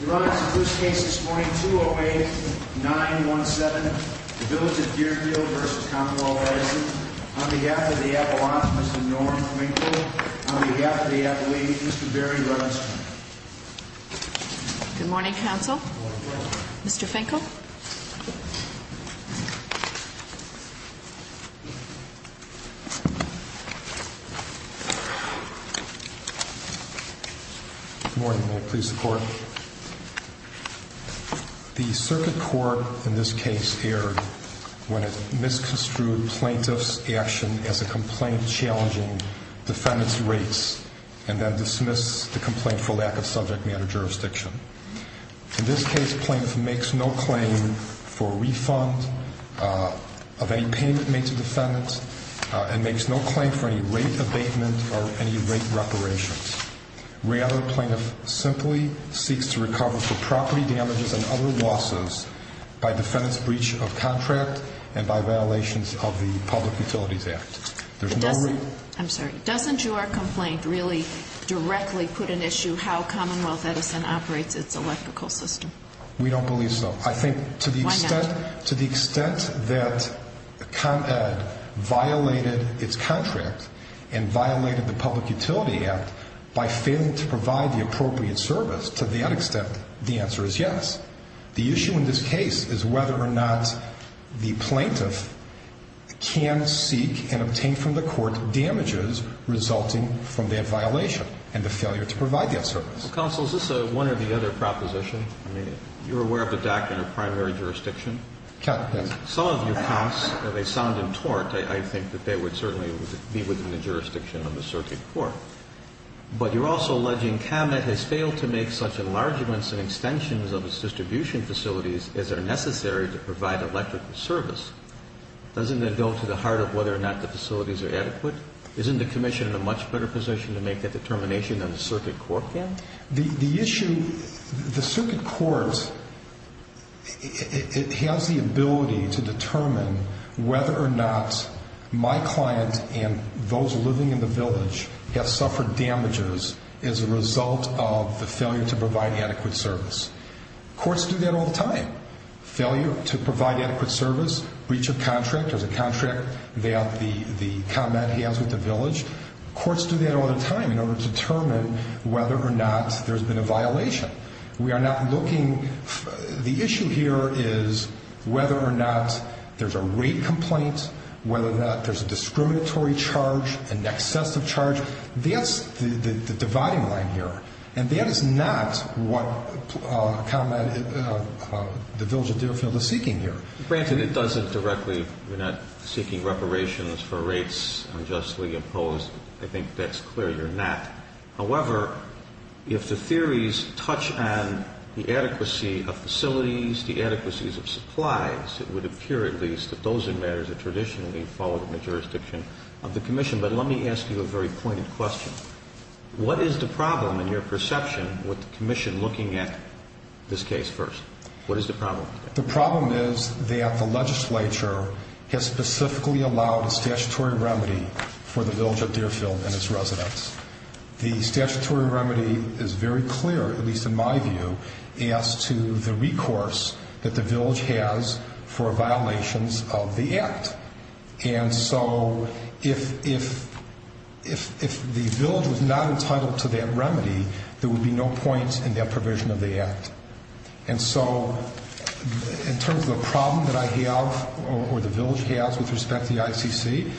Your Honor, the first case this morning, 208-917, the Village of Deerfield v. Commonwealth Edison, on behalf of the Appalachian, Mr. Norm Finkel, on behalf of the Appalachian, Mr. Barry Rubinstein. Good morning, Counsel. Mr. Finkel. Good morning. May it please the Court. The circuit court in this case erred when it misconstrued plaintiff's action as a complaint challenging defendant's rates and then dismissed the complaint for lack of subject matter jurisdiction. In this case, plaintiff makes no claim for refund of any payment made to defendant and makes no claim for any rate abatement or any rate reparations. Rather, plaintiff simply seeks to recover for property damages and other losses by defendant's breach of contract and by violations of the Public Utilities Act. Doesn't your complaint really directly put in issue how Commonwealth Edison operates its electrical system? We don't believe so. I think to the extent that ComEd violated its contract and violated the Public Utilities Act by failing to provide the appropriate service, to that extent, the answer is yes. The issue in this case is whether or not the plaintiff can seek and obtain from the court damages resulting from that violation and the failure to provide that service. Counsel, is this one or the other proposition? I mean, you're aware of the DAC in your primary jurisdiction? Yes. Some of your counts, they sound in tort. I think that they would certainly be within the jurisdiction of the circuit court. But you're also alleging ComEd has failed to make such enlargements and extensions of its distribution facilities as are necessary to provide electrical service. Doesn't that go to the heart of whether or not the facilities are adequate? Isn't the commission in a much better position to make that determination than the circuit court can? The issue, the circuit court, it has the ability to determine whether or not my client and those living in the village have suffered damages as a result of the failure to provide adequate service. Courts do that all the time. Failure to provide adequate service, breach of contract, there's a contract that the ComEd has with the village. Courts do that all the time in order to determine whether or not there's been a violation. We are not looking. The issue here is whether or not there's a rape complaint, whether or not there's a discriminatory charge, an excessive charge. That's the dividing line here. And that is not what ComEd, the village of Deerfield, is seeking here. Granted, it doesn't directly, you're not seeking reparations for rapes unjustly imposed. I think that's clear. You're not. However, if the theories touch on the adequacy of facilities, the adequacies of supplies, it would appear at least that those are matters that traditionally fall within the jurisdiction of the commission. But let me ask you a very pointed question. What is the problem in your perception with the commission looking at this case first? What is the problem? The problem is that the legislature has specifically allowed a statutory remedy for the village of Deerfield and its residents. The statutory remedy is very clear, at least in my view, as to the recourse that the village has for violations of the Act. And so if the village was not entitled to that remedy, there would be no point in that provision of the Act. And so in terms of the problem that I have or the village has with respect to the ICC,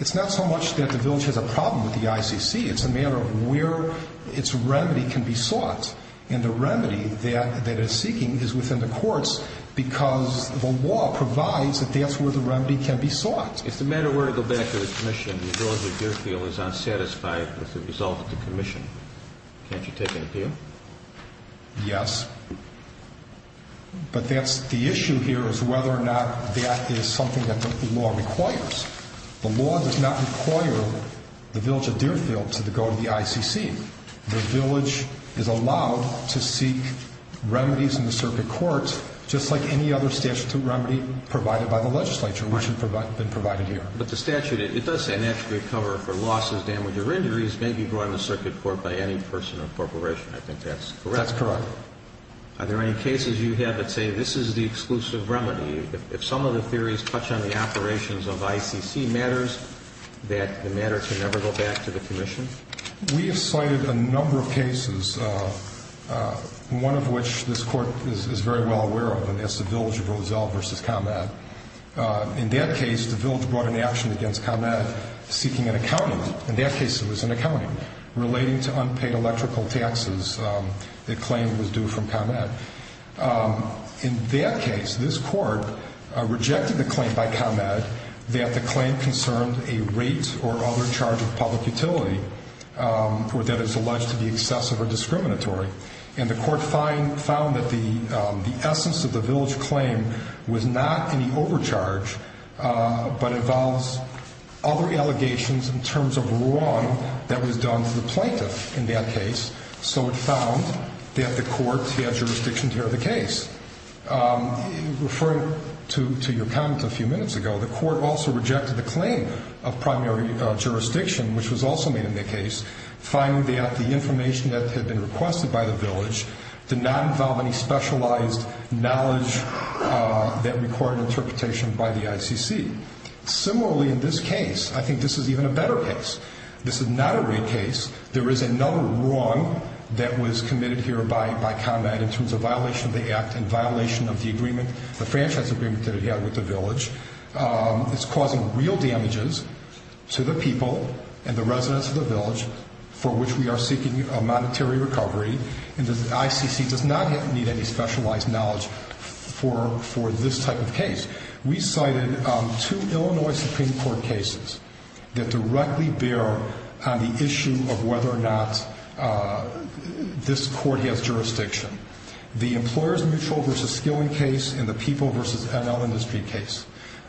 it's not so much that the village has a problem with the ICC. It's a matter of where its remedy can be sought. And the remedy that it is seeking is within the courts because the law provides that that's where the remedy can be sought. If the matter were to go back to the commission, the village of Deerfield is unsatisfied with the result of the commission, can't you take an appeal? Yes. But that's the issue here is whether or not that is something that the law requires. The law does not require the village of Deerfield to go to the ICC. The village is allowed to seek remedies in the circuit court just like any other statutory remedy provided by the legislature, which has been provided here. But the statute, it does say an attribute cover for losses, damage, or injuries may be brought in the circuit court by any person or corporation. I think that's correct. That's correct. Are there any cases you have that say this is the exclusive remedy? If some of the theories touch on the operations of ICC matters, that the matter can never go back to the commission? We have cited a number of cases, one of which this Court is very well aware of, and that's the village of Roselle v. ComEd. In that case, the village brought an action against ComEd seeking an accounting. In that case, it was an accounting relating to unpaid electrical taxes. The claim was due from ComEd. In that case, this Court rejected the claim by ComEd that the claim concerned a rate or other charge of public utility that is alleged to be excessive or discriminatory. And the Court found that the essence of the village claim was not any overcharge but involves other allegations in terms of wrong that was done to the plaintiff in that case. So it found that the Court had jurisdiction to hear the case. Referring to your comment a few minutes ago, the Court also rejected the claim of primary jurisdiction, which was also made in the case, finding that the information that had been requested by the village did not involve any specialized knowledge that required interpretation by the ICC. Similarly, in this case, I think this is even a better case. This is not a rate case. There is another wrong that was committed here by ComEd in terms of violation of the act and violation of the agreement, the franchise agreement that it had with the village. It's causing real damages to the people and the residents of the village for which we are seeking a monetary recovery. And the ICC does not need any specialized knowledge for this type of case. We cited two Illinois Supreme Court cases that directly bear on the issue of whether or not this Court has jurisdiction. The Employers Mutual v. Skilling case and the People v. NL Industry case.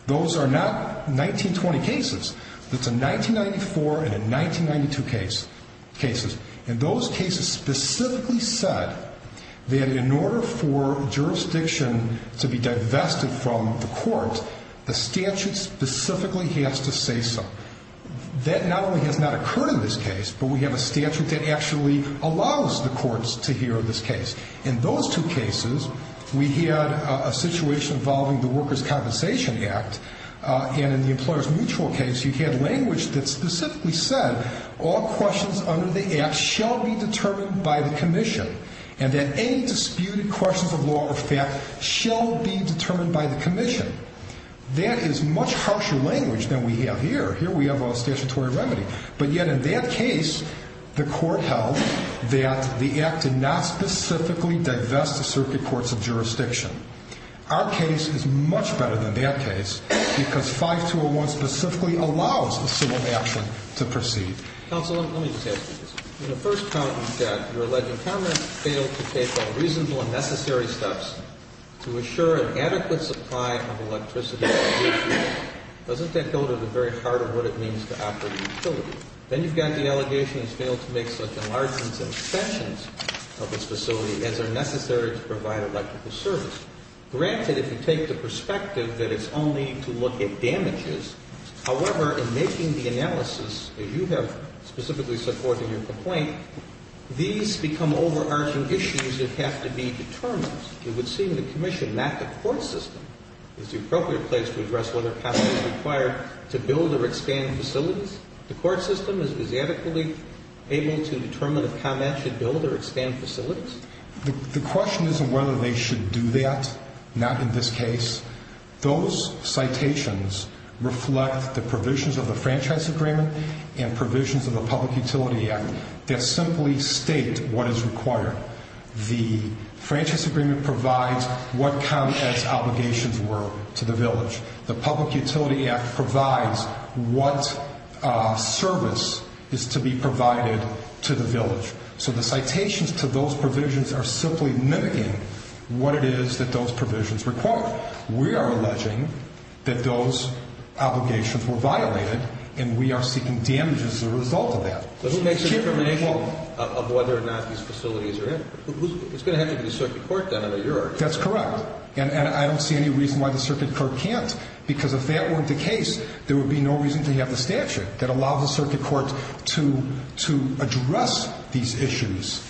Those are not 1920 cases. It's a 1994 and a 1992 case. And those cases specifically said that in order for jurisdiction to be divested from the Court, the statute specifically has to say so. That not only has not occurred in this case, but we have a statute that actually allows the courts to hear of this case. In those two cases, we had a situation involving the Workers' Compensation Act. And in the Employers Mutual case, you had language that specifically said all questions under the act shall be determined by the Commission, and that any disputed questions of law or fact shall be determined by the Commission. That is much harsher language than we have here. Here we have a statutory remedy. But yet in that case, the Court held that the act did not specifically divest the circuit courts of jurisdiction. Our case is much better than that case because 5201 specifically allows a civil action to proceed. Counsel, let me just ask you this. In the first count you've got your alleged comrade failed to take all reasonable and necessary steps to assure an adequate supply of electricity. Doesn't that go to the very heart of what it means to operate a utility? Then you've got the allegation he's failed to make such enlargements and extensions of his facility as are necessary to provide electrical service. Granted, if you take the perspective that it's only to look at damages, however, in making the analysis that you have specifically supported in your complaint, these become overarching issues that have to be determined. It would seem the Commission, not the court system, is the appropriate place to address whether comment is required to build or expand facilities. The court system is adequately able to determine if comment should build or expand facilities? The question isn't whether they should do that, not in this case. Those citations reflect the provisions of the Franchise Agreement and provisions of the Public Utility Act that simply state what is required. The Franchise Agreement provides what ComEd's obligations were to the village. The Public Utility Act provides what service is to be provided to the village. So the citations to those provisions are simply mimicking what it is that those provisions require. We are alleging that those obligations were violated, and we are seeking damages as a result of that. But who makes the determination of whether or not these facilities are in? It's going to have to be the Circuit Court then, I know you're arguing. That's correct. And I don't see any reason why the Circuit Court can't, because if that weren't the case, there would be no reason to have the statute that allows the Circuit Court to address these issues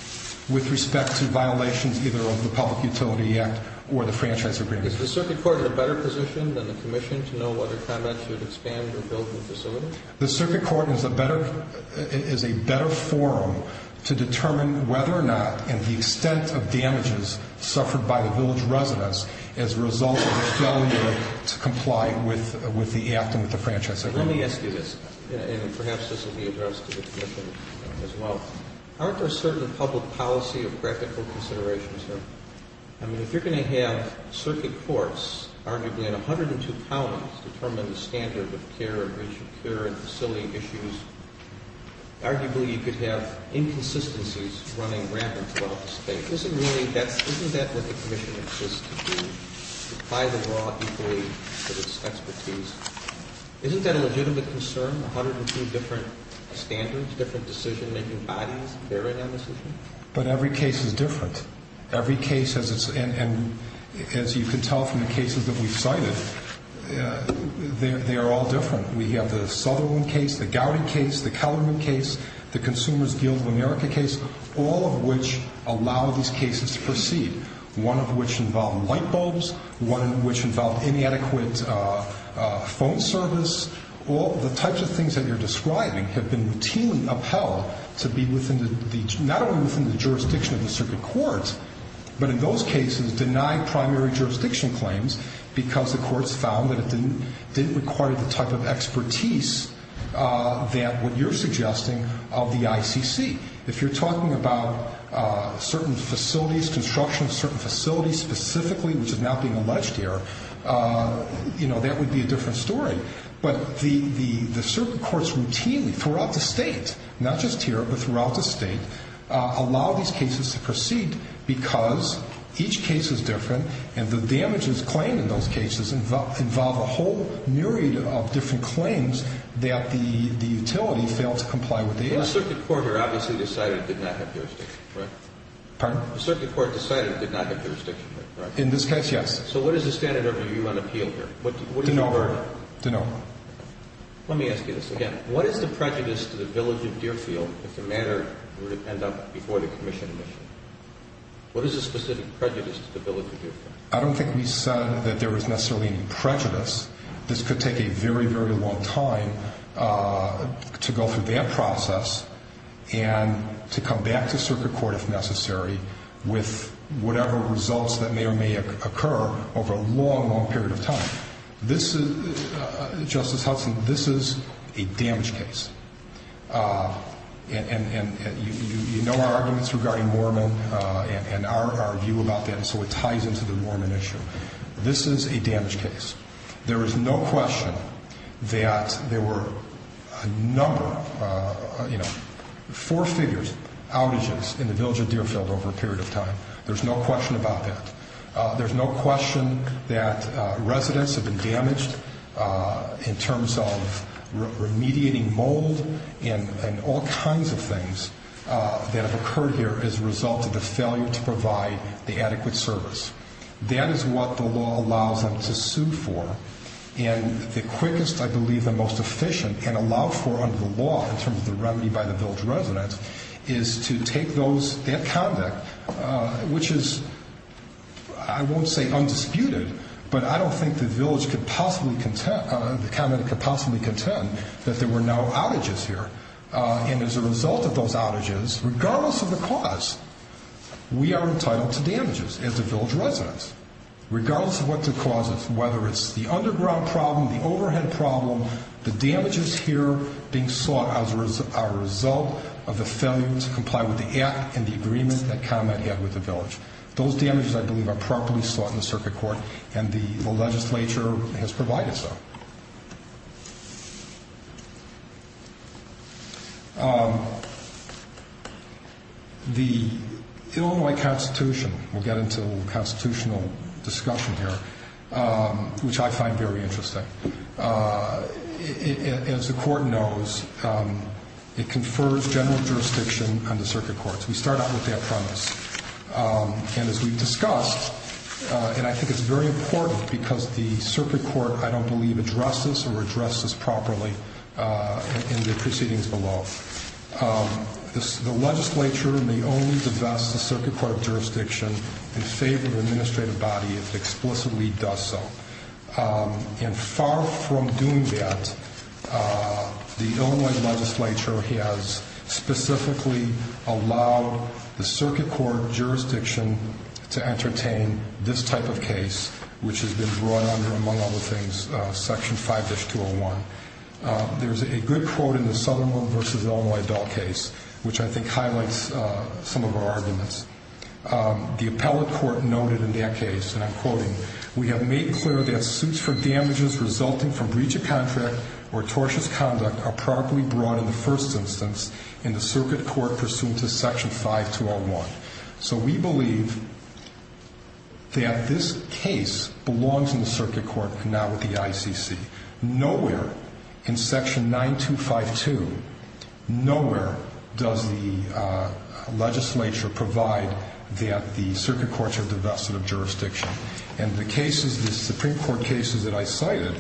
with respect to violations either of the Public Utility Act or the Franchise Agreement. Is the Circuit Court in a better position than the Commission to know whether ComEd should expand or build the facilities? The Circuit Court is a better forum to determine whether or not, and the extent of damages suffered by the village residents as a result of the failure to comply with the Act and with the Franchise Agreement. Let me ask you this, and perhaps this will be addressed to the Commission as well. Aren't there certain public policy or practical considerations here? I mean, if you're going to have Circuit Courts, arguably, at 102 pounds, determine the standard of care and facility issues, arguably you could have inconsistencies running rampant throughout the State. Isn't that what the Commission exists to do, to apply the law equally to its expertise? Isn't that a legitimate concern, 102 different standards, different decision-making bodies bearing on this issue? But every case is different. Every case, and as you can tell from the cases that we've cited, they are all different. We have the Sutherland case, the Gowdy case, the Kellerman case, the Consumers Guild of America case, all of which allow these cases to proceed, one of which involved light bulbs, one of which involved inadequate phone service. All the types of things that you're describing have been routinely upheld to be not only within the jurisdiction of the Circuit Court, but in those cases denied primary jurisdiction claims because the courts found that it didn't require the type of expertise that what you're suggesting of the ICC. If you're talking about certain facilities, construction of certain facilities specifically, which is not being alleged here, that would be a different story. But the Circuit Courts routinely throughout the State, not just here, but throughout the State, allow these cases to proceed because each case is different, and the damages claimed in those cases involve a whole myriad of different claims that the utility failed to comply with the ICC. The Circuit Court here obviously decided it did not have jurisdiction, right? Pardon? The Circuit Court decided it did not have jurisdiction, right? In this case, yes. So what is the standard of review on appeal here? What is your verdict? Do not. Do not. Let me ask you this again. What is the prejudice to the village of Deerfield if the matter would end up before the commission admission? What is the specific prejudice to the village of Deerfield? I don't think we said that there was necessarily any prejudice. This could take a very, very long time to go through that process and to come back to Circuit Court if necessary with whatever results that may or may occur over a long, long period of time. Justice Hudson, this is a damage case. And you know our arguments regarding Mormon and our view about that, so it ties into the Mormon issue. This is a damage case. There is no question that there were a number, you know, four figures, outages in the village of Deerfield over a period of time. There's no question about that. There's no question that residents have been damaged in terms of remediating mold and all kinds of things that have occurred here as a result of the failure to provide the adequate service. That is what the law allows them to sue for. And the quickest, I believe, and most efficient, and allowed for under the law in terms of the remedy by the village residents, is to take that conduct, which is, I won't say undisputed, but I don't think the village could possibly contend that there were no outages here. And as a result of those outages, regardless of the cause, we are entitled to damages as the village residents, regardless of what the cause is, whether it's the underground problem, the overhead problem, the damages here being sought as a result of the failure to comply with the Act and the agreement that ComEd had with the village. Those damages, I believe, are properly sought in the circuit court, and the legislature has provided so. The Illinois Constitution, we'll get into a little constitutional discussion here, which I find very interesting. As the court knows, it confers general jurisdiction on the circuit courts. We start out with that premise. And as we've discussed, and I think it's very important because the circuit court, I don't believe, addresses or addresses properly in the proceedings below, the legislature may only divest the circuit court of jurisdiction in favor of the administrative body if it explicitly does so. And far from doing that, the Illinois legislature has specifically allowed the circuit court jurisdiction to entertain this type of case, which has been brought under, among other things, Section 5-201. There's a good quote in the Sutherland v. Illinois Dahl case, which I think highlights some of our arguments. The appellate court noted in that case, and I'm quoting, we have made clear that suits for damages resulting from breach of contract or tortious conduct are properly brought in the first instance in the circuit court pursuant to Section 5-201. So we believe that this case belongs in the circuit court, not with the ICC. Nowhere in Section 9252, nowhere does the legislature provide that the circuit courts are divested of jurisdiction. And the cases, the Supreme Court cases that I cited,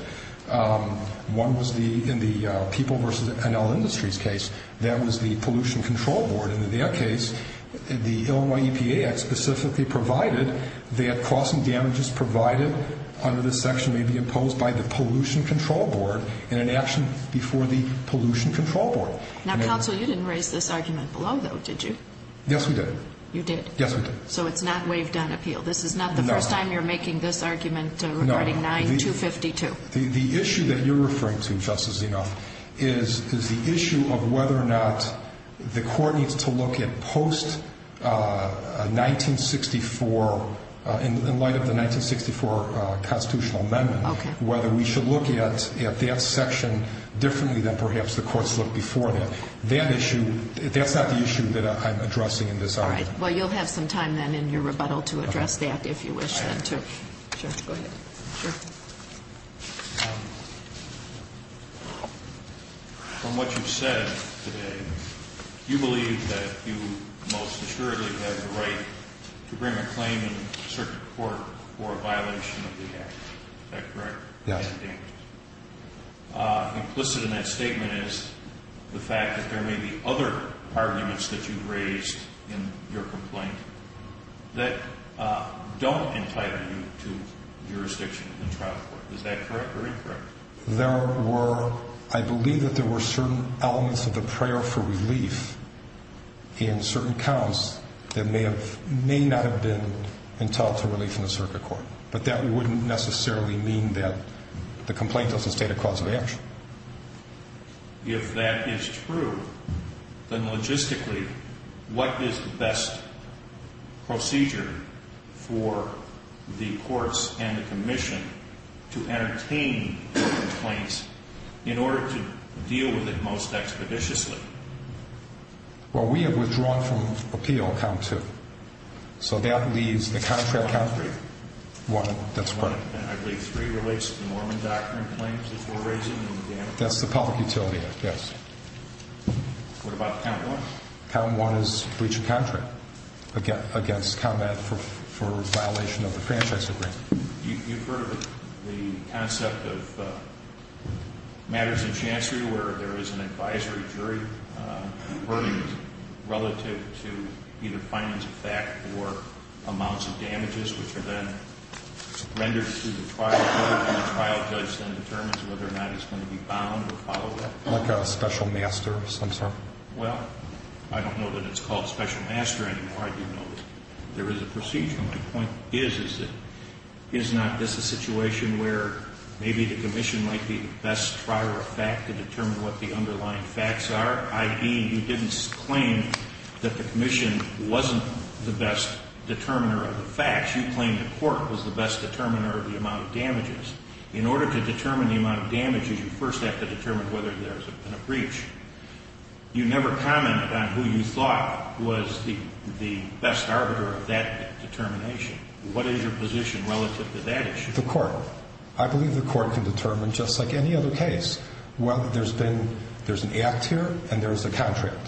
one was in the People v. Enel Industries case. That was the Pollution Control Board. In their case, the Illinois EPA had specifically provided that costs and damages provided under this section may be imposed by the Pollution Control Board in an action before the Pollution Control Board. Now, counsel, you didn't raise this argument below, though, did you? Yes, we did. You did? Yes, we did. So it's not waived on appeal? No. This is not the first time you're making this argument regarding 9252? The issue that you're referring to, Justice Zinoff, is the issue of whether or not the court needs to look at post-1964, in light of the 1964 constitutional amendment, whether we should look at that section differently than perhaps the courts looked before that. That issue, that's not the issue that I'm addressing in this argument. All right. Well, you'll have some time then in your rebuttal to address that if you wish then, too. Sure. Go ahead. From what you've said today, you believe that you most assuredly have the right to bring a claim in a certain court for a violation of the Act. Is that correct? Yes. Implicit in that statement is the fact that there may be other arguments that you've raised in your complaint that don't entitle you to jurisdiction in the trial court. Is that correct or incorrect? I believe that there were certain elements of the prayer for relief in certain counts that may not have been entitled to relief in the circuit court. But that wouldn't necessarily mean that the complaint doesn't state a cause of action. If that is true, then logistically, what is the best procedure for the courts and the commission to entertain complaints in order to deal with it most expeditiously? Well, we have withdrawn from appeal count two. So that leaves the contract count one. That's correct. I believe three relates to the Mormon doctrine claims that you're raising and the damage. That's the public utility, yes. What about count one? Count one is breach of contract against combat for violation of the franchise agreement. You've heard of it, the concept of matters of chancery where there is an advisory jury relative to either finance of fact or amounts of damages, which are then rendered to the trial court, and the trial judge then determines whether or not it's going to be bound or followed up. Like a special master of some sort? Well, I don't know that it's called special master anymore. I do know that there is a procedure. My point is that is not this a situation where maybe the commission might be the best trial of fact to determine what the underlying facts are, i.e., you didn't claim that the commission wasn't the best determiner of the facts. You claimed the court was the best determiner of the amount of damages. In order to determine the amount of damages, you first have to determine whether there's been a breach. You never commented on who you thought was the best arbiter of that determination. What is your position relative to that issue? The court. I believe the court can determine, just like any other case, whether there's been an act here and there's a contract.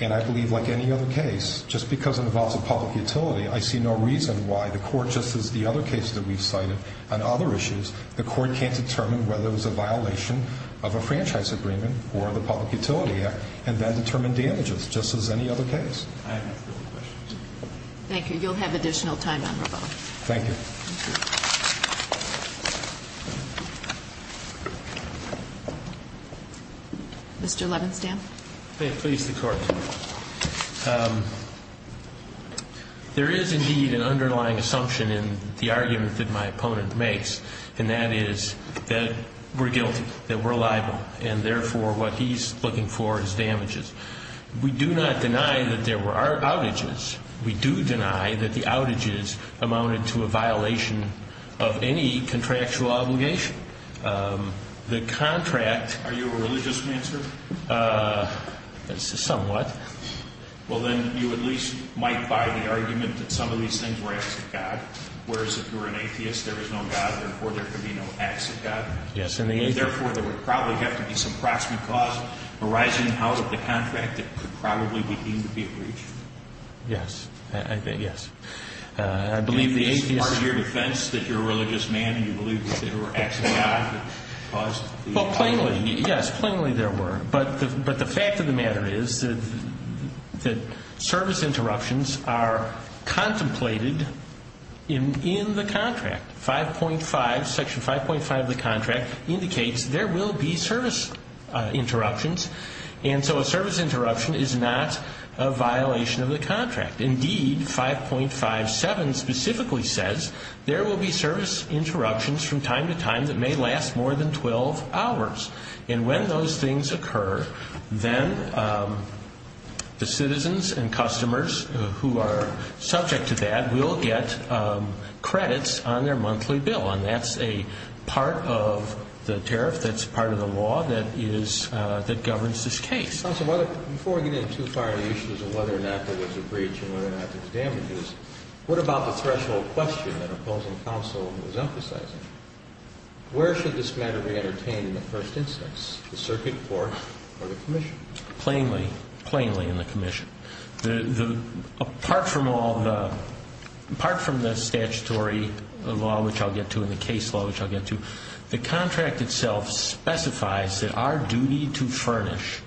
And I believe, like any other case, just because it involves a public utility, I see no reason why the court, just as the other case that we've cited on other issues, the court can't determine whether it was a violation of a franchise agreement or the Public Utility Act and then determine damages, just as any other case. I have no further questions. Thank you. You'll have additional time on rebuttal. Thank you. Mr. Levenstam. May it please the Court. There is, indeed, an underlying assumption in the argument that my opponent makes, and that is that we're guilty, that we're liable, and therefore what he's looking for is damages. We do not deny that there were outages. We do deny that the outages amounted to a violation of any contractual obligation. The contract. Are you a religious man, sir? Somewhat. Well, then you at least might buy the argument that some of these things were acts of God, whereas if you're an atheist, there is no God, and therefore there could be no acts of God. Yes. And therefore there would probably have to be some proximate cause arising out of the contract that could probably be deemed to be a breach. Yes. Yes. I believe the atheists. Is it part of your defense that you're a religious man, and you believe that there were acts of God that caused the outages? Well, plainly, yes, plainly there were. But the fact of the matter is that service interruptions are contemplated in the contract. Section 5.5 of the contract indicates there will be service interruptions, and so a service interruption is not a violation of the contract. Indeed, 5.57 specifically says there will be service interruptions from time to time that may last more than 12 hours. And when those things occur, then the citizens and customers who are subject to that will get credits on their monthly bill, and that's a part of the tariff that's part of the law that governs this case. Counsel, before we get in too far into the issues of whether or not there was a breach and whether or not there was damages, what about the threshold question that opposing counsel was emphasizing? Where should this matter be entertained in the first instance, the circuit court or the commission? Plainly, plainly in the commission. Apart from the statutory law, which I'll get to, and the case law, which I'll get to, the contract itself specifies that our duty to furnish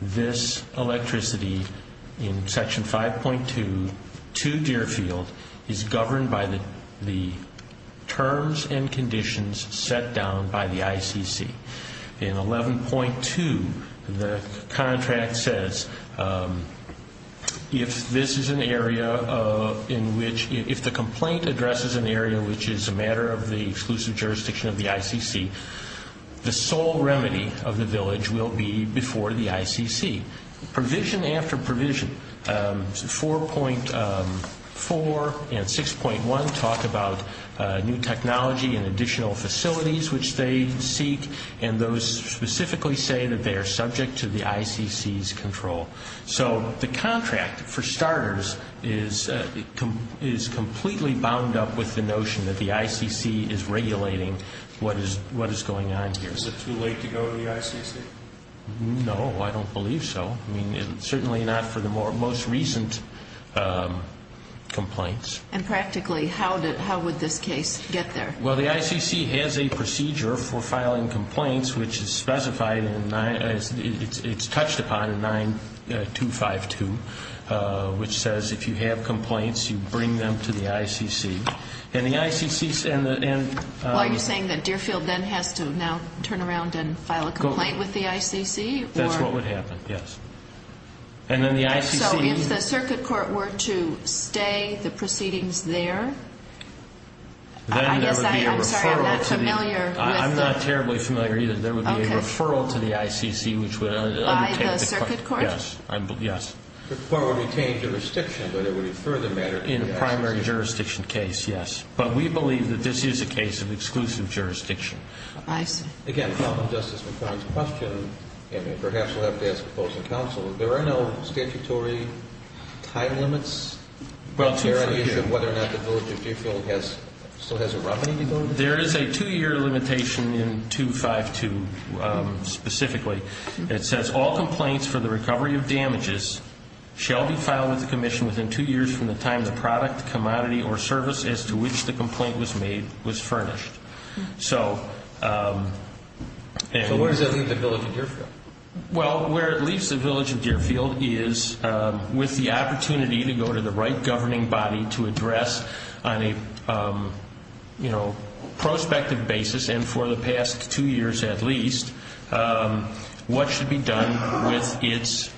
this electricity in Section 5.2 to Deerfield is governed by the terms and conditions set down by the ICC. In 11.2, the contract says if this is an area in which, if the complaint addresses an area which is a matter of the exclusive jurisdiction of the ICC, the sole remedy of the village will be before the ICC. Provision after provision, 4.4 and 6.1 talk about new technology and additional facilities which they seek, and those specifically say that they are subject to the ICC's control. So the contract, for starters, is completely bound up with the notion that the ICC is regulating what is going on here. Is it too late to go to the ICC? No, I don't believe so. Certainly not for the most recent complaints. And practically, how would this case get there? Well, the ICC has a procedure for filing complaints, which is specified in 9, it's touched upon in 9252, which says if you have complaints, you bring them to the ICC. And the ICC and the Are you saying that Deerfield then has to now turn around and file a complaint with the ICC? That's what would happen, yes. And then the ICC So if the circuit court were to stay the proceedings there? Then there would be a referral to the I'm sorry, I'm not familiar with the I'm not terribly familiar either. There would be a referral to the ICC, which would By the circuit court? Yes. The court would retain jurisdiction, but it would infer the matter In a primary jurisdiction case, yes. But we believe that this is a case of exclusive jurisdiction. I see. Again, following Justice McConnell's question, and perhaps we'll have to ask the opposing counsel, there are no statutory time limits Well, 252 On whether or not the village of Deerfield still has a remedy to go to? There is a two-year limitation in 252, specifically. It says all complaints for the recovery of damages shall be filed with the commission within two years from the time the product, commodity, or service as to which the complaint was made was furnished. So where does that leave the village of Deerfield? Well, where it leaves the village of Deerfield is with the opportunity to go to the right governing body to address on a prospective basis, and for the past two years at least what should be done with its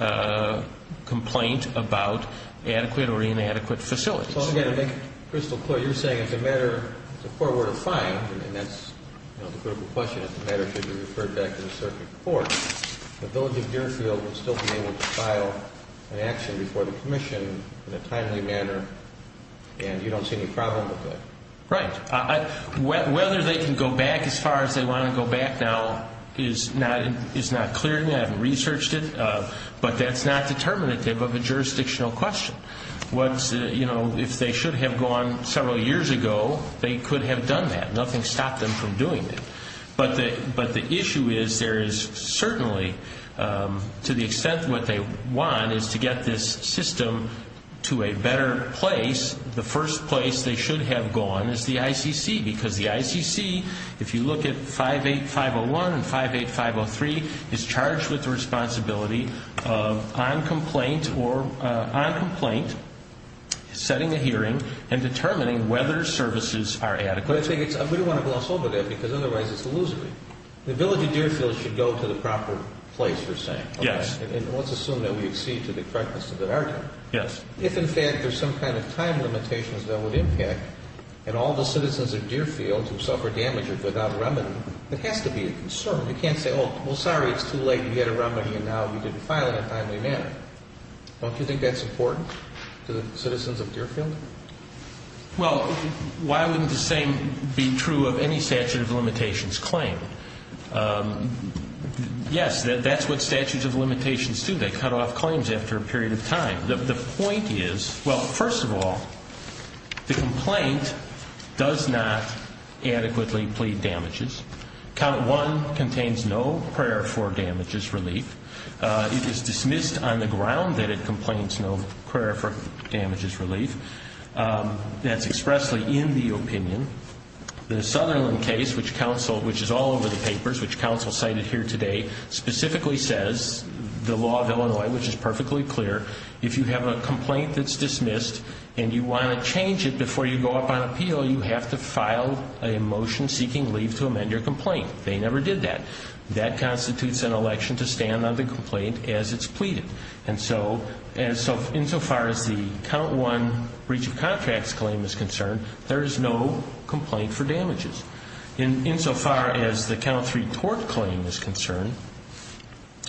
complaint about adequate or inadequate facilities. So again, to make it crystal clear, you're saying it's a matter, it's a court-ordered fine, and that's the critical question, if the matter should be referred back to the circuit court, the village of Deerfield will still be able to file an action before the commission in a timely manner, and you don't see any problem with that? Right. Whether they can go back as far as they want to go back now is not clear to me. I haven't researched it. But that's not determinative of a jurisdictional question. If they should have gone several years ago, they could have done that. Nothing stopped them from doing it. But the issue is there is certainly, to the extent what they want is to get this system to a better place, the first place they should have gone is the ICC, because the ICC, if you look at 58501 and 58503, is charged with the responsibility of on complaint setting a hearing and determining whether services are adequate. We don't want to gloss over that because otherwise it's illusory. The village of Deerfield should go to the proper place, you're saying. Yes. And let's assume that we exceed to the correctness of that article. Yes. If in fact there's some kind of time limitations that would impact, and all the citizens of Deerfield who suffer damage are without remedy, it has to be a concern. You can't say, well, sorry, it's too late. We had a remedy and now we didn't file it in a timely manner. Don't you think that's important to the citizens of Deerfield? Well, why wouldn't the same be true of any statute of limitations claim? Yes, that's what statutes of limitations do. They cut off claims after a period of time. The point is, well, first of all, the complaint does not adequately plead damages. Count 1 contains no prayer for damages relief. It is dismissed on the ground that it complains no prayer for damages relief. That's expressly in the opinion. The Sutherland case, which is all over the papers, which counsel cited here today, specifically says the law of Illinois, which is perfectly clear, if you have a complaint that's dismissed and you want to change it before you go up on appeal, you have to file a motion seeking leave to amend your complaint. They never did that. That constitutes an election to stand on the complaint as it's pleaded. And so insofar as the Count 1 breach of contracts claim is concerned, there is no complaint for damages. Insofar as the Count 3 tort claim is concerned,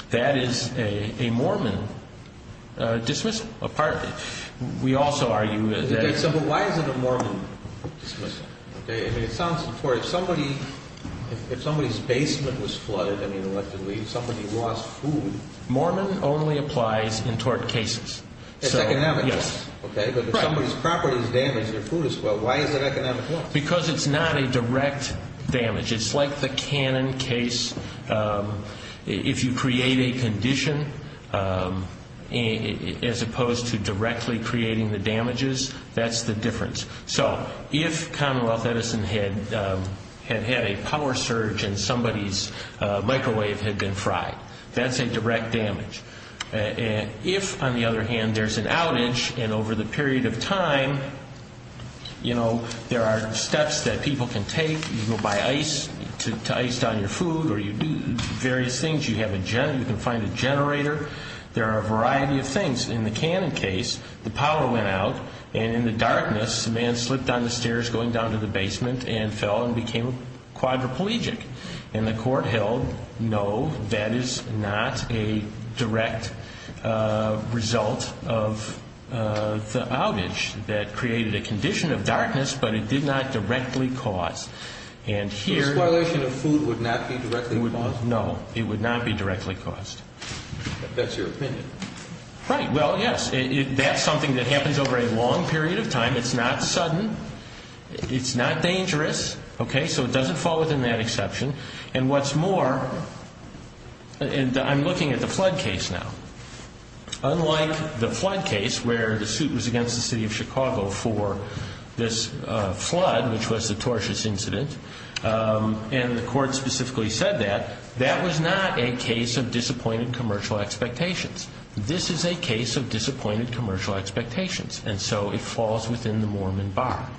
that is a Mormon dismissal. We also argue that. Okay, so why is it a Mormon dismissal? I mean, it sounds important. If somebody's basement was flooded, I mean, elected leave, somebody lost food. Mormon only applies in tort cases. It's economic. Yes. Okay, but if somebody's property is damaged, their food is lost, why is it economic loss? Because it's not a direct damage. It's like the Cannon case. If you create a condition as opposed to directly creating the damages, that's the difference. So if Commonwealth Edison had had a power surge and somebody's microwave had been fried, that's a direct damage. If, on the other hand, there's an outage and over the period of time, you know, there are steps that people can take. You go buy ice to ice down your food or you do various things. You can find a generator. There are a variety of things. In the Cannon case, the power went out, and in the darkness, a man slipped down the stairs going down to the basement and fell and became quadriplegic. And the court held, no, that is not a direct result of the outage that created a condition of darkness, but it did not directly cause. This violation of food would not be directly caused? No, it would not be directly caused. That's your opinion. Right, well, yes, that's something that happens over a long period of time. It's not sudden. It's not dangerous. Okay, so it doesn't fall within that exception. And what's more, and I'm looking at the flood case now. Unlike the flood case where the suit was against the city of Chicago for this flood, which was a tortious incident, and the court specifically said that, that was not a case of disappointed commercial expectations. This is a case of disappointed commercial expectations. And so it falls within the Mormon bar.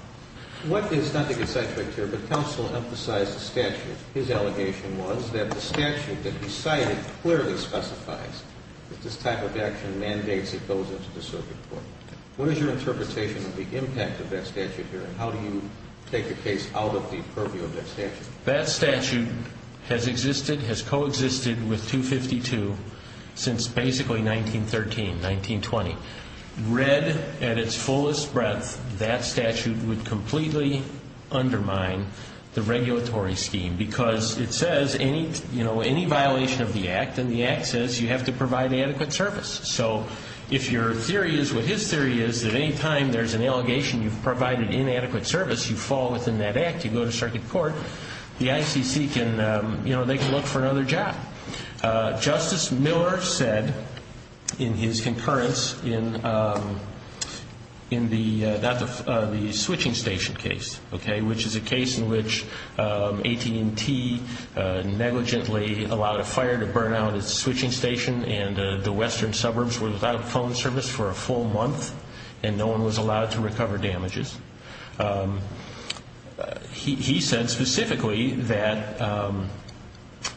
What is, not to get sidetracked here, but Counsel emphasized the statute. His allegation was that the statute that he cited clearly specifies that this type of action mandates it goes into the circuit court. What is your interpretation of the impact of that statute here, and how do you take the case out of the purview of that statute? That statute has existed, has coexisted with 252 since basically 1913, 1920. Read at its fullest breadth, that statute would completely undermine the regulatory scheme, because it says any violation of the Act, and the Act says you have to provide adequate service. So if your theory is what his theory is, at any time there's an allegation you've provided inadequate service, you fall within that Act, you go to circuit court, the ICC can, you know, they can look for another job. Justice Miller said in his concurrence in the switching station case, okay, which is a case in which AT&T negligently allowed a fire to burn out its switching station, and the western suburbs were without phone service for a full month, and no one was allowed to recover damages. He said specifically that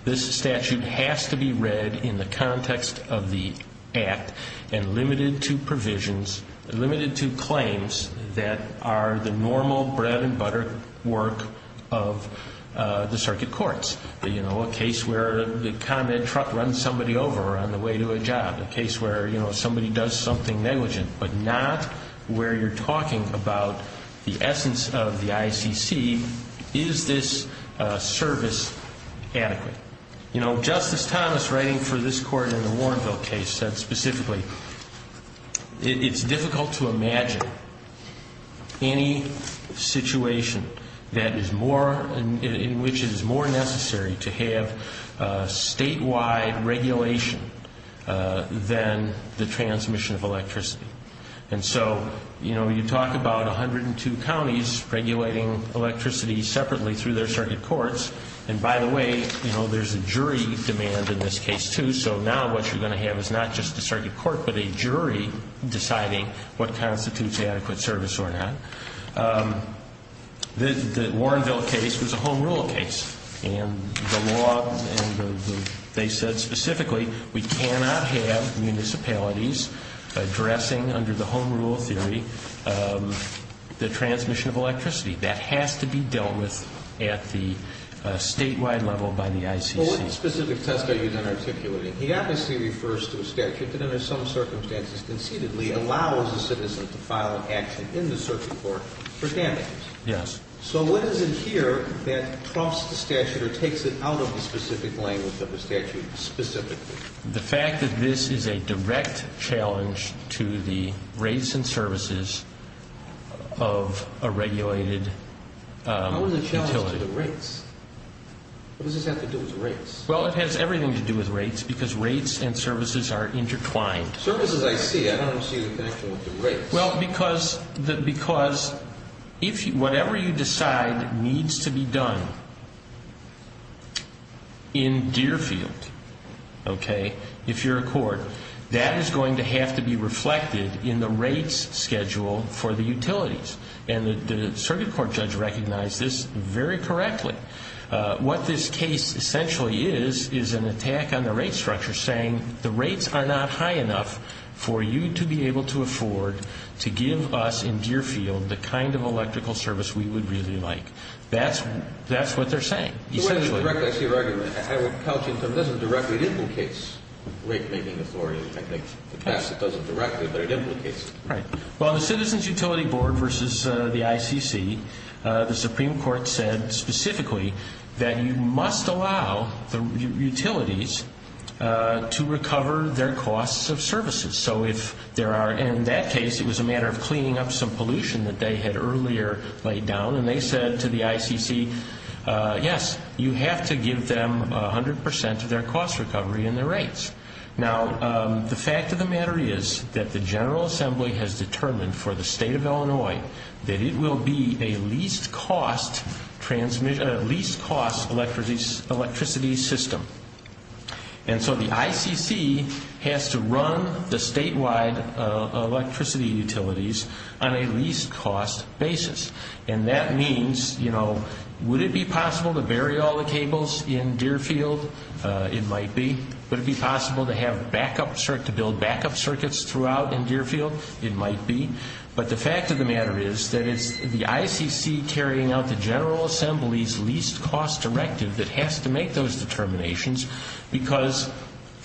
this statute has to be read in the context of the Act, and limited to provisions, limited to claims that are the normal bread and butter work of the circuit courts. You know, a case where the Con Ed truck runs somebody over on the way to a job, a case where, you know, somebody does something negligent, but not where you're talking about the essence of the ICC, is this service adequate? You know, Justice Thomas writing for this court in the Warrenville case said specifically, it's difficult to imagine any situation that is more, in which it is more necessary to have statewide regulation than the transmission of electricity. And so, you know, you talk about 102 counties regulating electricity separately through their circuit courts, and by the way, you know, there's a jury demand in this case too, so now what you're going to have is not just a circuit court, but a jury deciding what constitutes adequate service or not. The Warrenville case was a home rule case, and the law, and they said specifically, we cannot have municipalities addressing under the home rule theory the transmission of electricity. That has to be dealt with at the statewide level by the ICC. Well, what specific test are you then articulating? He obviously refers to a statute that under some circumstances, concededly allows a citizen to file an action in the circuit court for damage. Yes. So what is it here that troughs the statute or takes it out of the specific language of the statute specifically? The fact that this is a direct challenge to the rates and services of a regulated utility. How is it a challenge to the rates? What does this have to do with rates? Well, it has everything to do with rates because rates and services are intertwined. Services, I see. I don't see the connection with the rates. Well, because whatever you decide needs to be done in Deerfield, okay, if you're a court, that is going to have to be reflected in the rates schedule for the utilities, and the circuit court judge recognized this very correctly. What this case essentially is, is an attack on the rate structure, saying the rates are not high enough for you to be able to afford to give us in Deerfield the kind of electrical service we would really like. That's what they're saying, essentially. I see your argument. I would couch it. It doesn't directly implicate rate-making authority. I think in the past it doesn't directly, but it implicates it. Right. Well, the Citizens Utility Board versus the ICC, the Supreme Court said specifically that you must allow the utilities to recover their costs of services. So if there are, in that case, it was a matter of cleaning up some pollution that they had earlier laid down, and they said to the ICC, yes, you have to give them 100% of their cost recovery in their rates. Now, the fact of the matter is that the General Assembly has determined for the state of Illinois that it will be a least-cost electricity system. And so the ICC has to run the statewide electricity utilities on a least-cost basis. And that means, you know, would it be possible to bury all the cables in Deerfield? It might be. Would it be possible to build backup circuits throughout in Deerfield? It might be. But the fact of the matter is that it's the ICC carrying out the General Assembly's least-cost directive that has to make those determinations because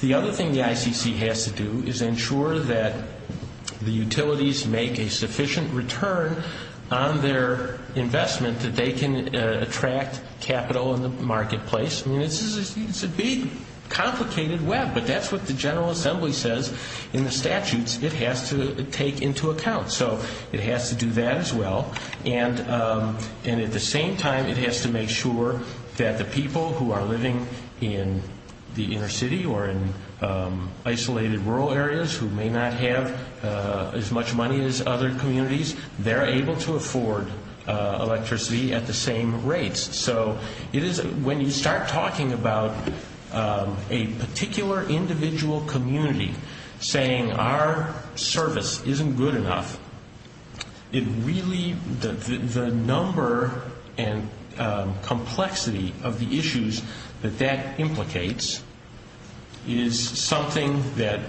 the other thing the ICC has to do is ensure that the utilities make a sufficient return on their investment that they can attract capital in the marketplace. I mean, it's a big, complicated web. But that's what the General Assembly says in the statutes it has to take into account. So it has to do that as well. And at the same time, it has to make sure that the people who are living in the inner city or in isolated rural areas who may not have as much money as other communities, they're able to afford electricity at the same rates. So when you start talking about a particular individual community saying our service isn't good enough, the number and complexity of the issues that that implicates is something that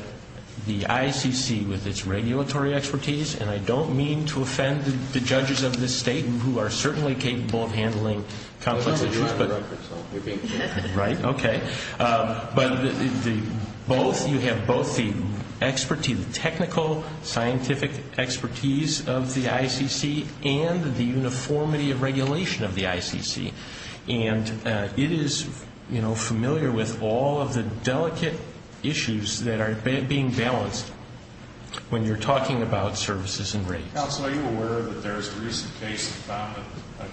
the ICC, with its regulatory expertise, and I don't mean to offend the judges of this state, who are certainly capable of handling complex issues, but you have both the technical, scientific expertise of the ICC and the uniformity of regulation of the ICC. And it is familiar with all of the delicate issues that are being balanced when you're talking about services and rates. Counsel, are you aware that there's a recent case that found that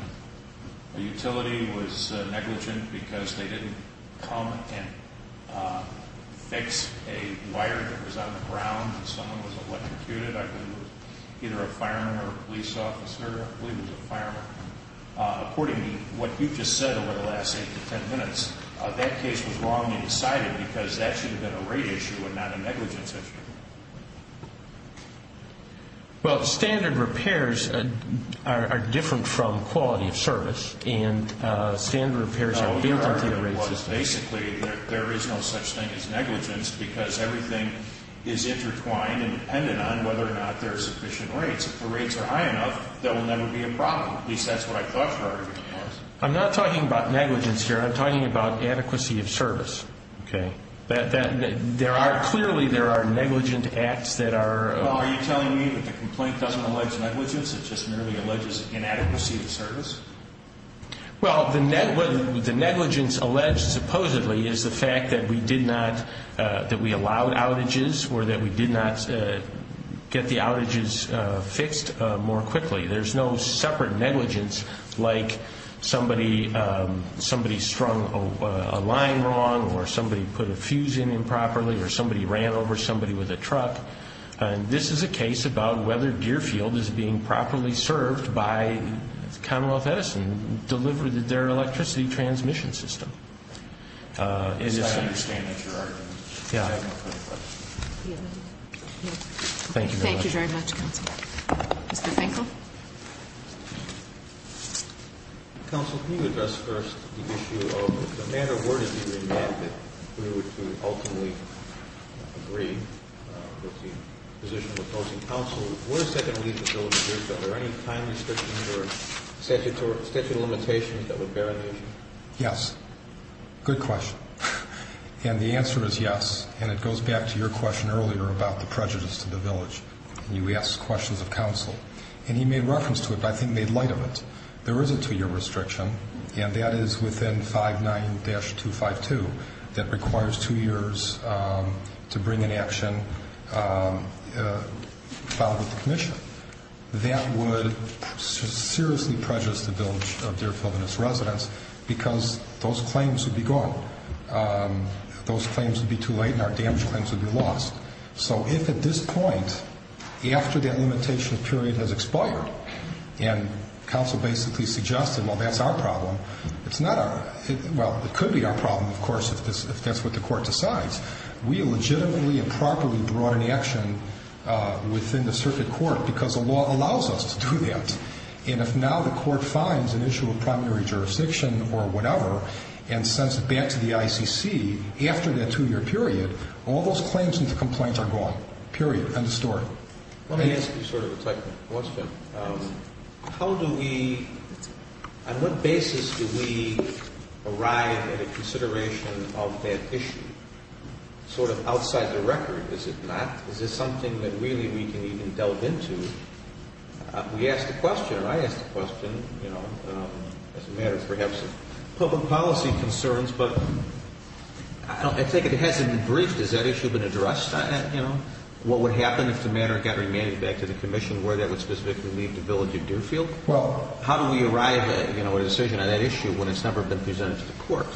a utility was negligent because they didn't come and fix a wire that was on the ground and someone was electrocuted? I believe it was either a fireman or a police officer. I believe it was a fireman. According to what you've just said over the last 8 to 10 minutes, that case was wrongly decided because that should have been a rate issue and not a negligence issue. Well, standard repairs are different from quality of service, and standard repairs are built into the rate system. No, your argument was basically that there is no such thing as negligence because everything is intertwined and dependent on whether or not there are sufficient rates. If the rates are high enough, there will never be a problem. At least that's what I thought your argument was. I'm not talking about negligence here. I'm talking about adequacy of service. Clearly there are negligent acts that are... Are you telling me that the complaint doesn't allege negligence, it just merely alleges inadequacy of service? Well, the negligence alleged supposedly is the fact that we allowed outages or that we did not get the outages fixed more quickly. There's no separate negligence like somebody strung a line wrong or somebody put a fuse in improperly or somebody ran over somebody with a truck. This is a case about whether Gearfield is being properly served by Commonwealth Edison and delivered their electricity transmission system. I understand that's your argument. Thank you very much. Thank you, Mr. Counsel. Mr. Finkel? Counsel, can you address first the issue of the manner worded in your amendment in order to ultimately agree with the position of opposing counsel? What is that going to leave the village with? Are there any time restrictions or statute of limitations that would bear on the issue? Yes. Good question. And the answer is yes, and it goes back to your question earlier about the prejudice to the village. You asked questions of counsel, and he made reference to it, but I think made light of it. There is a two-year restriction, and that is within 5-9-252 that requires two years to bring an action filed with the commission. That would seriously prejudice the village of Deerfield and its residents because those claims would be gone. Those claims would be too late and our damage claims would be lost. So if at this point, after that limitation period has expired, and counsel basically suggested, well, that's our problem, well, it could be our problem, of course, if that's what the court decides. We legitimately and properly brought an action within the circuit court because the law allows us to do that. And if now the court finds an issue of primary jurisdiction or whatever and sends it back to the ICC after that two-year period, all those claims and the complaints are gone, period, end of story. Let me ask you sort of a technical question. How do we, on what basis do we arrive at a consideration of that issue? Sort of outside the record, is it not? Is this something that really we can even delve into? We asked a question, and I asked a question, you know, as a matter perhaps of public policy concerns, but I think if it hasn't been briefed, has that issue been addressed? What would happen if the matter got remanded back to the commission where that would specifically leave the village of Deerfield? How do we arrive at a decision on that issue when it's never been presented to the court?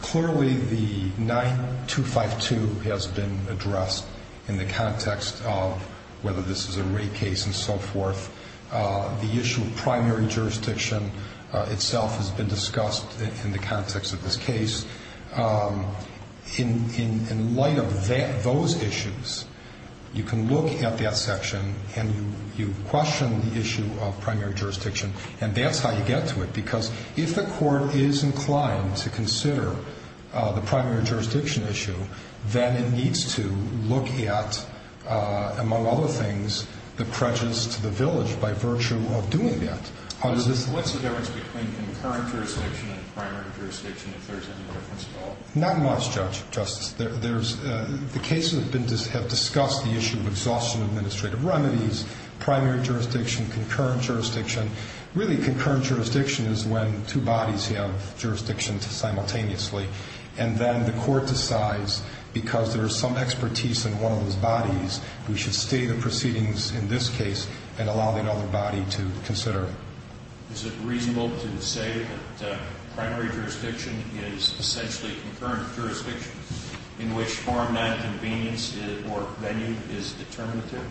Clearly, the 9252 has been addressed in the context of whether this is a rape case and so forth. The issue of primary jurisdiction itself has been discussed in the context of this case. In light of those issues, you can look at that section and you question the issue of primary jurisdiction, and that's how you get to it, because if the court is inclined to consider the primary jurisdiction issue, then it needs to look at, among other things, the prejudice to the village by virtue of doing that. What's the difference between concurrent jurisdiction and primary jurisdiction if there's any difference at all? Not much, Justice. The cases have discussed the issue of exhaustion of administrative remedies, primary jurisdiction, concurrent jurisdiction. Really, concurrent jurisdiction is when two bodies have jurisdictions simultaneously, and then the court decides, because there's some expertise in one of those bodies, we should stay the proceedings in this case and allow the other body to consider it. Is it reasonable to say that primary jurisdiction is essentially concurrent jurisdiction in which form nonconvenience or venue is determinative?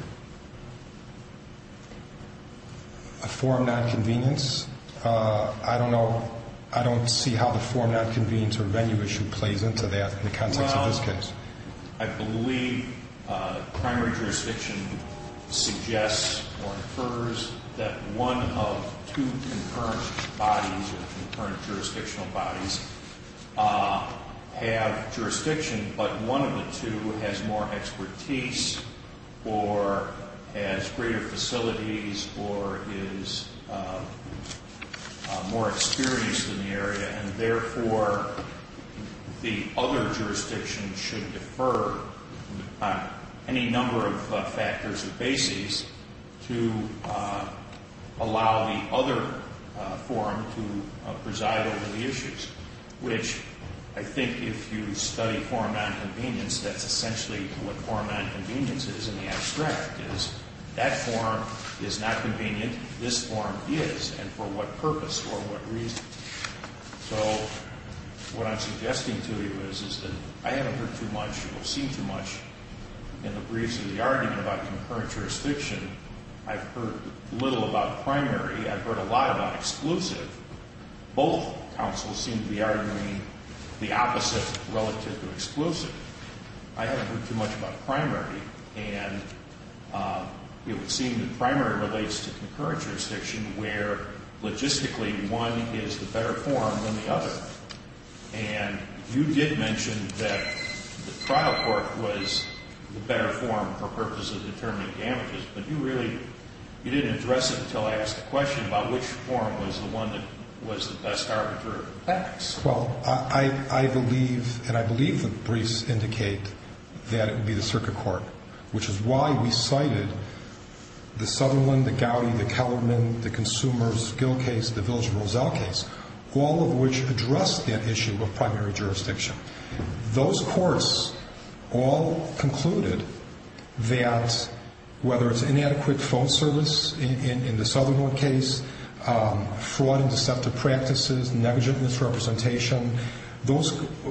A form nonconvenience? I don't know. I don't see how the form nonconvenience or venue issue plays into that in the context of this case. Well, I believe primary jurisdiction suggests or infers that one of two concurrent bodies or concurrent jurisdictional bodies have jurisdiction, but one of the two has more expertise or has greater facilities or is more experienced in the area, and therefore the other jurisdiction should defer on any number of factors or bases to allow the other forum to preside over the issues, which I think if you study forum nonconvenience, that's essentially what forum nonconvenience is in the abstract, is that forum is not convenient. This forum is, and for what purpose or what reason? So what I'm suggesting to you is that I haven't heard too much or seen too much in the briefs of the argument about concurrent jurisdiction. I've heard little about primary. I've heard a lot about exclusive. Both counsels seem to be arguing the opposite relative to exclusive. I haven't heard too much about primary, and it would seem that primary relates to concurrent jurisdiction where logistically one is the better forum than the other, and you did mention that the trial court was the better forum for purposes of determining damages, but you really didn't address it until I asked the question about which forum was the one that was the best arbiter of facts. Well, I believe, and I believe the briefs indicate that it would be the circuit court, which is why we cited the Sutherland, the Gowdy, the Kellerman, the Consumers, Gill case, the Village of Roselle case, all of which addressed that issue of primary jurisdiction. Those courts all concluded that whether it's inadequate phone service in the Sutherland case, fraud and deceptive practices, negligent misrepresentation,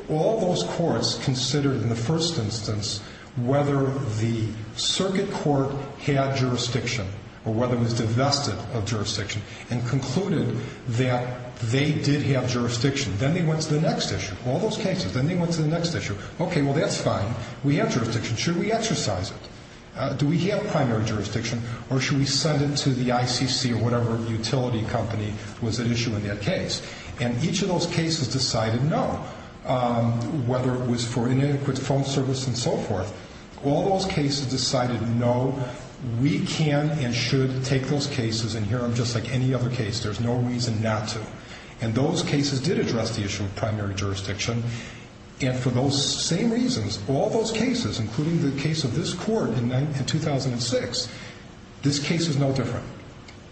all those courts considered in the first instance whether the circuit court had jurisdiction or whether it was divested of jurisdiction and concluded that they did have jurisdiction. Then they went to the next issue, all those cases. Then they went to the next issue. Okay, well, that's fine. We have jurisdiction. Should we exercise it? Do we have primary jurisdiction, or should we send it to the ICC or whatever utility company was at issue in that case? And each of those cases decided no, whether it was for inadequate phone service and so forth. All those cases decided no, we can and should take those cases and hear them just like any other case. There's no reason not to. And those cases did address the issue of primary jurisdiction. And for those same reasons, all those cases, including the case of this court in 2006, this case is no different.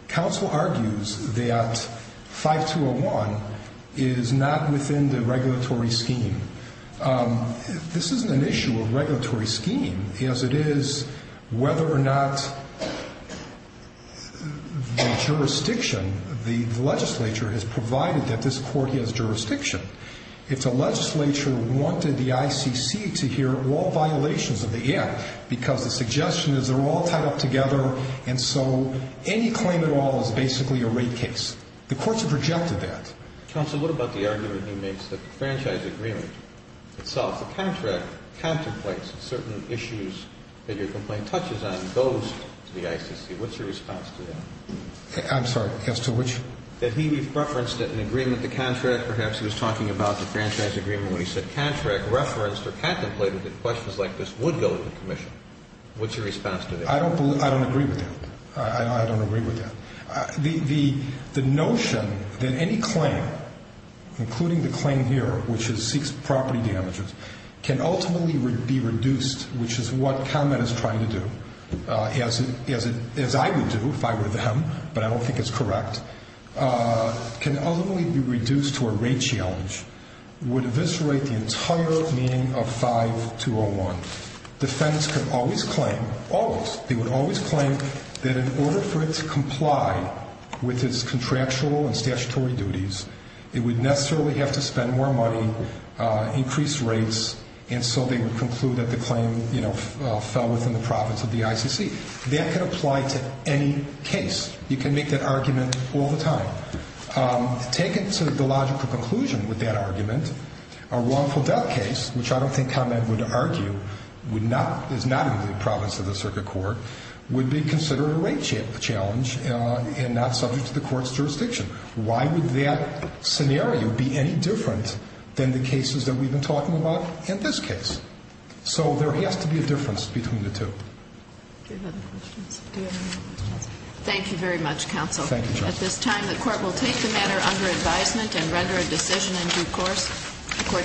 Counsel argues that 5201 is not within the regulatory scheme. This isn't an issue of regulatory scheme, as it is whether or not the jurisdiction, the legislature, has provided that this court has jurisdiction. If the legislature wanted the ICC to hear all violations of the Act because the suggestion is they're all tied up together and so any claim at all is basically a rate case, the courts have rejected that. Counsel, what about the argument he makes that the franchise agreement itself, the contract, contemplates certain issues that your complaint touches on and goes to the ICC? What's your response to that? I'm sorry. As to which? That he referenced an agreement, the contract. Perhaps he was talking about the franchise agreement when he said contract referenced or contemplated that questions like this would go to the commission. What's your response to that? I don't agree with that. I don't agree with that. The notion that any claim, including the claim here, which is seeks property damages, can ultimately be reduced, which is what ComEd is trying to do, as I would do if I were them, but I don't think it's correct, can ultimately be reduced to a rate challenge would eviscerate the entire meaning of 5201. Defendants could always claim, always, they would always claim that in order for it to comply with its contractual and statutory duties, it would necessarily have to spend more money, increase rates, and so they would conclude that the claim fell within the profits of the ICC. That could apply to any case. You can make that argument all the time. Taken to the logical conclusion with that argument, a wrongful death case, which I don't think ComEd would argue is not in the province of the circuit court, would be considered a rate challenge and not subject to the court's jurisdiction. Why would that scenario be any different than the cases that we've been talking about in this case? So there has to be a difference between the two. Do you have other questions? Thank you very much, counsel. Thank you, Justice. At this time, the court will take the matter under advisement and render a decision in due course. The court stands adjourned.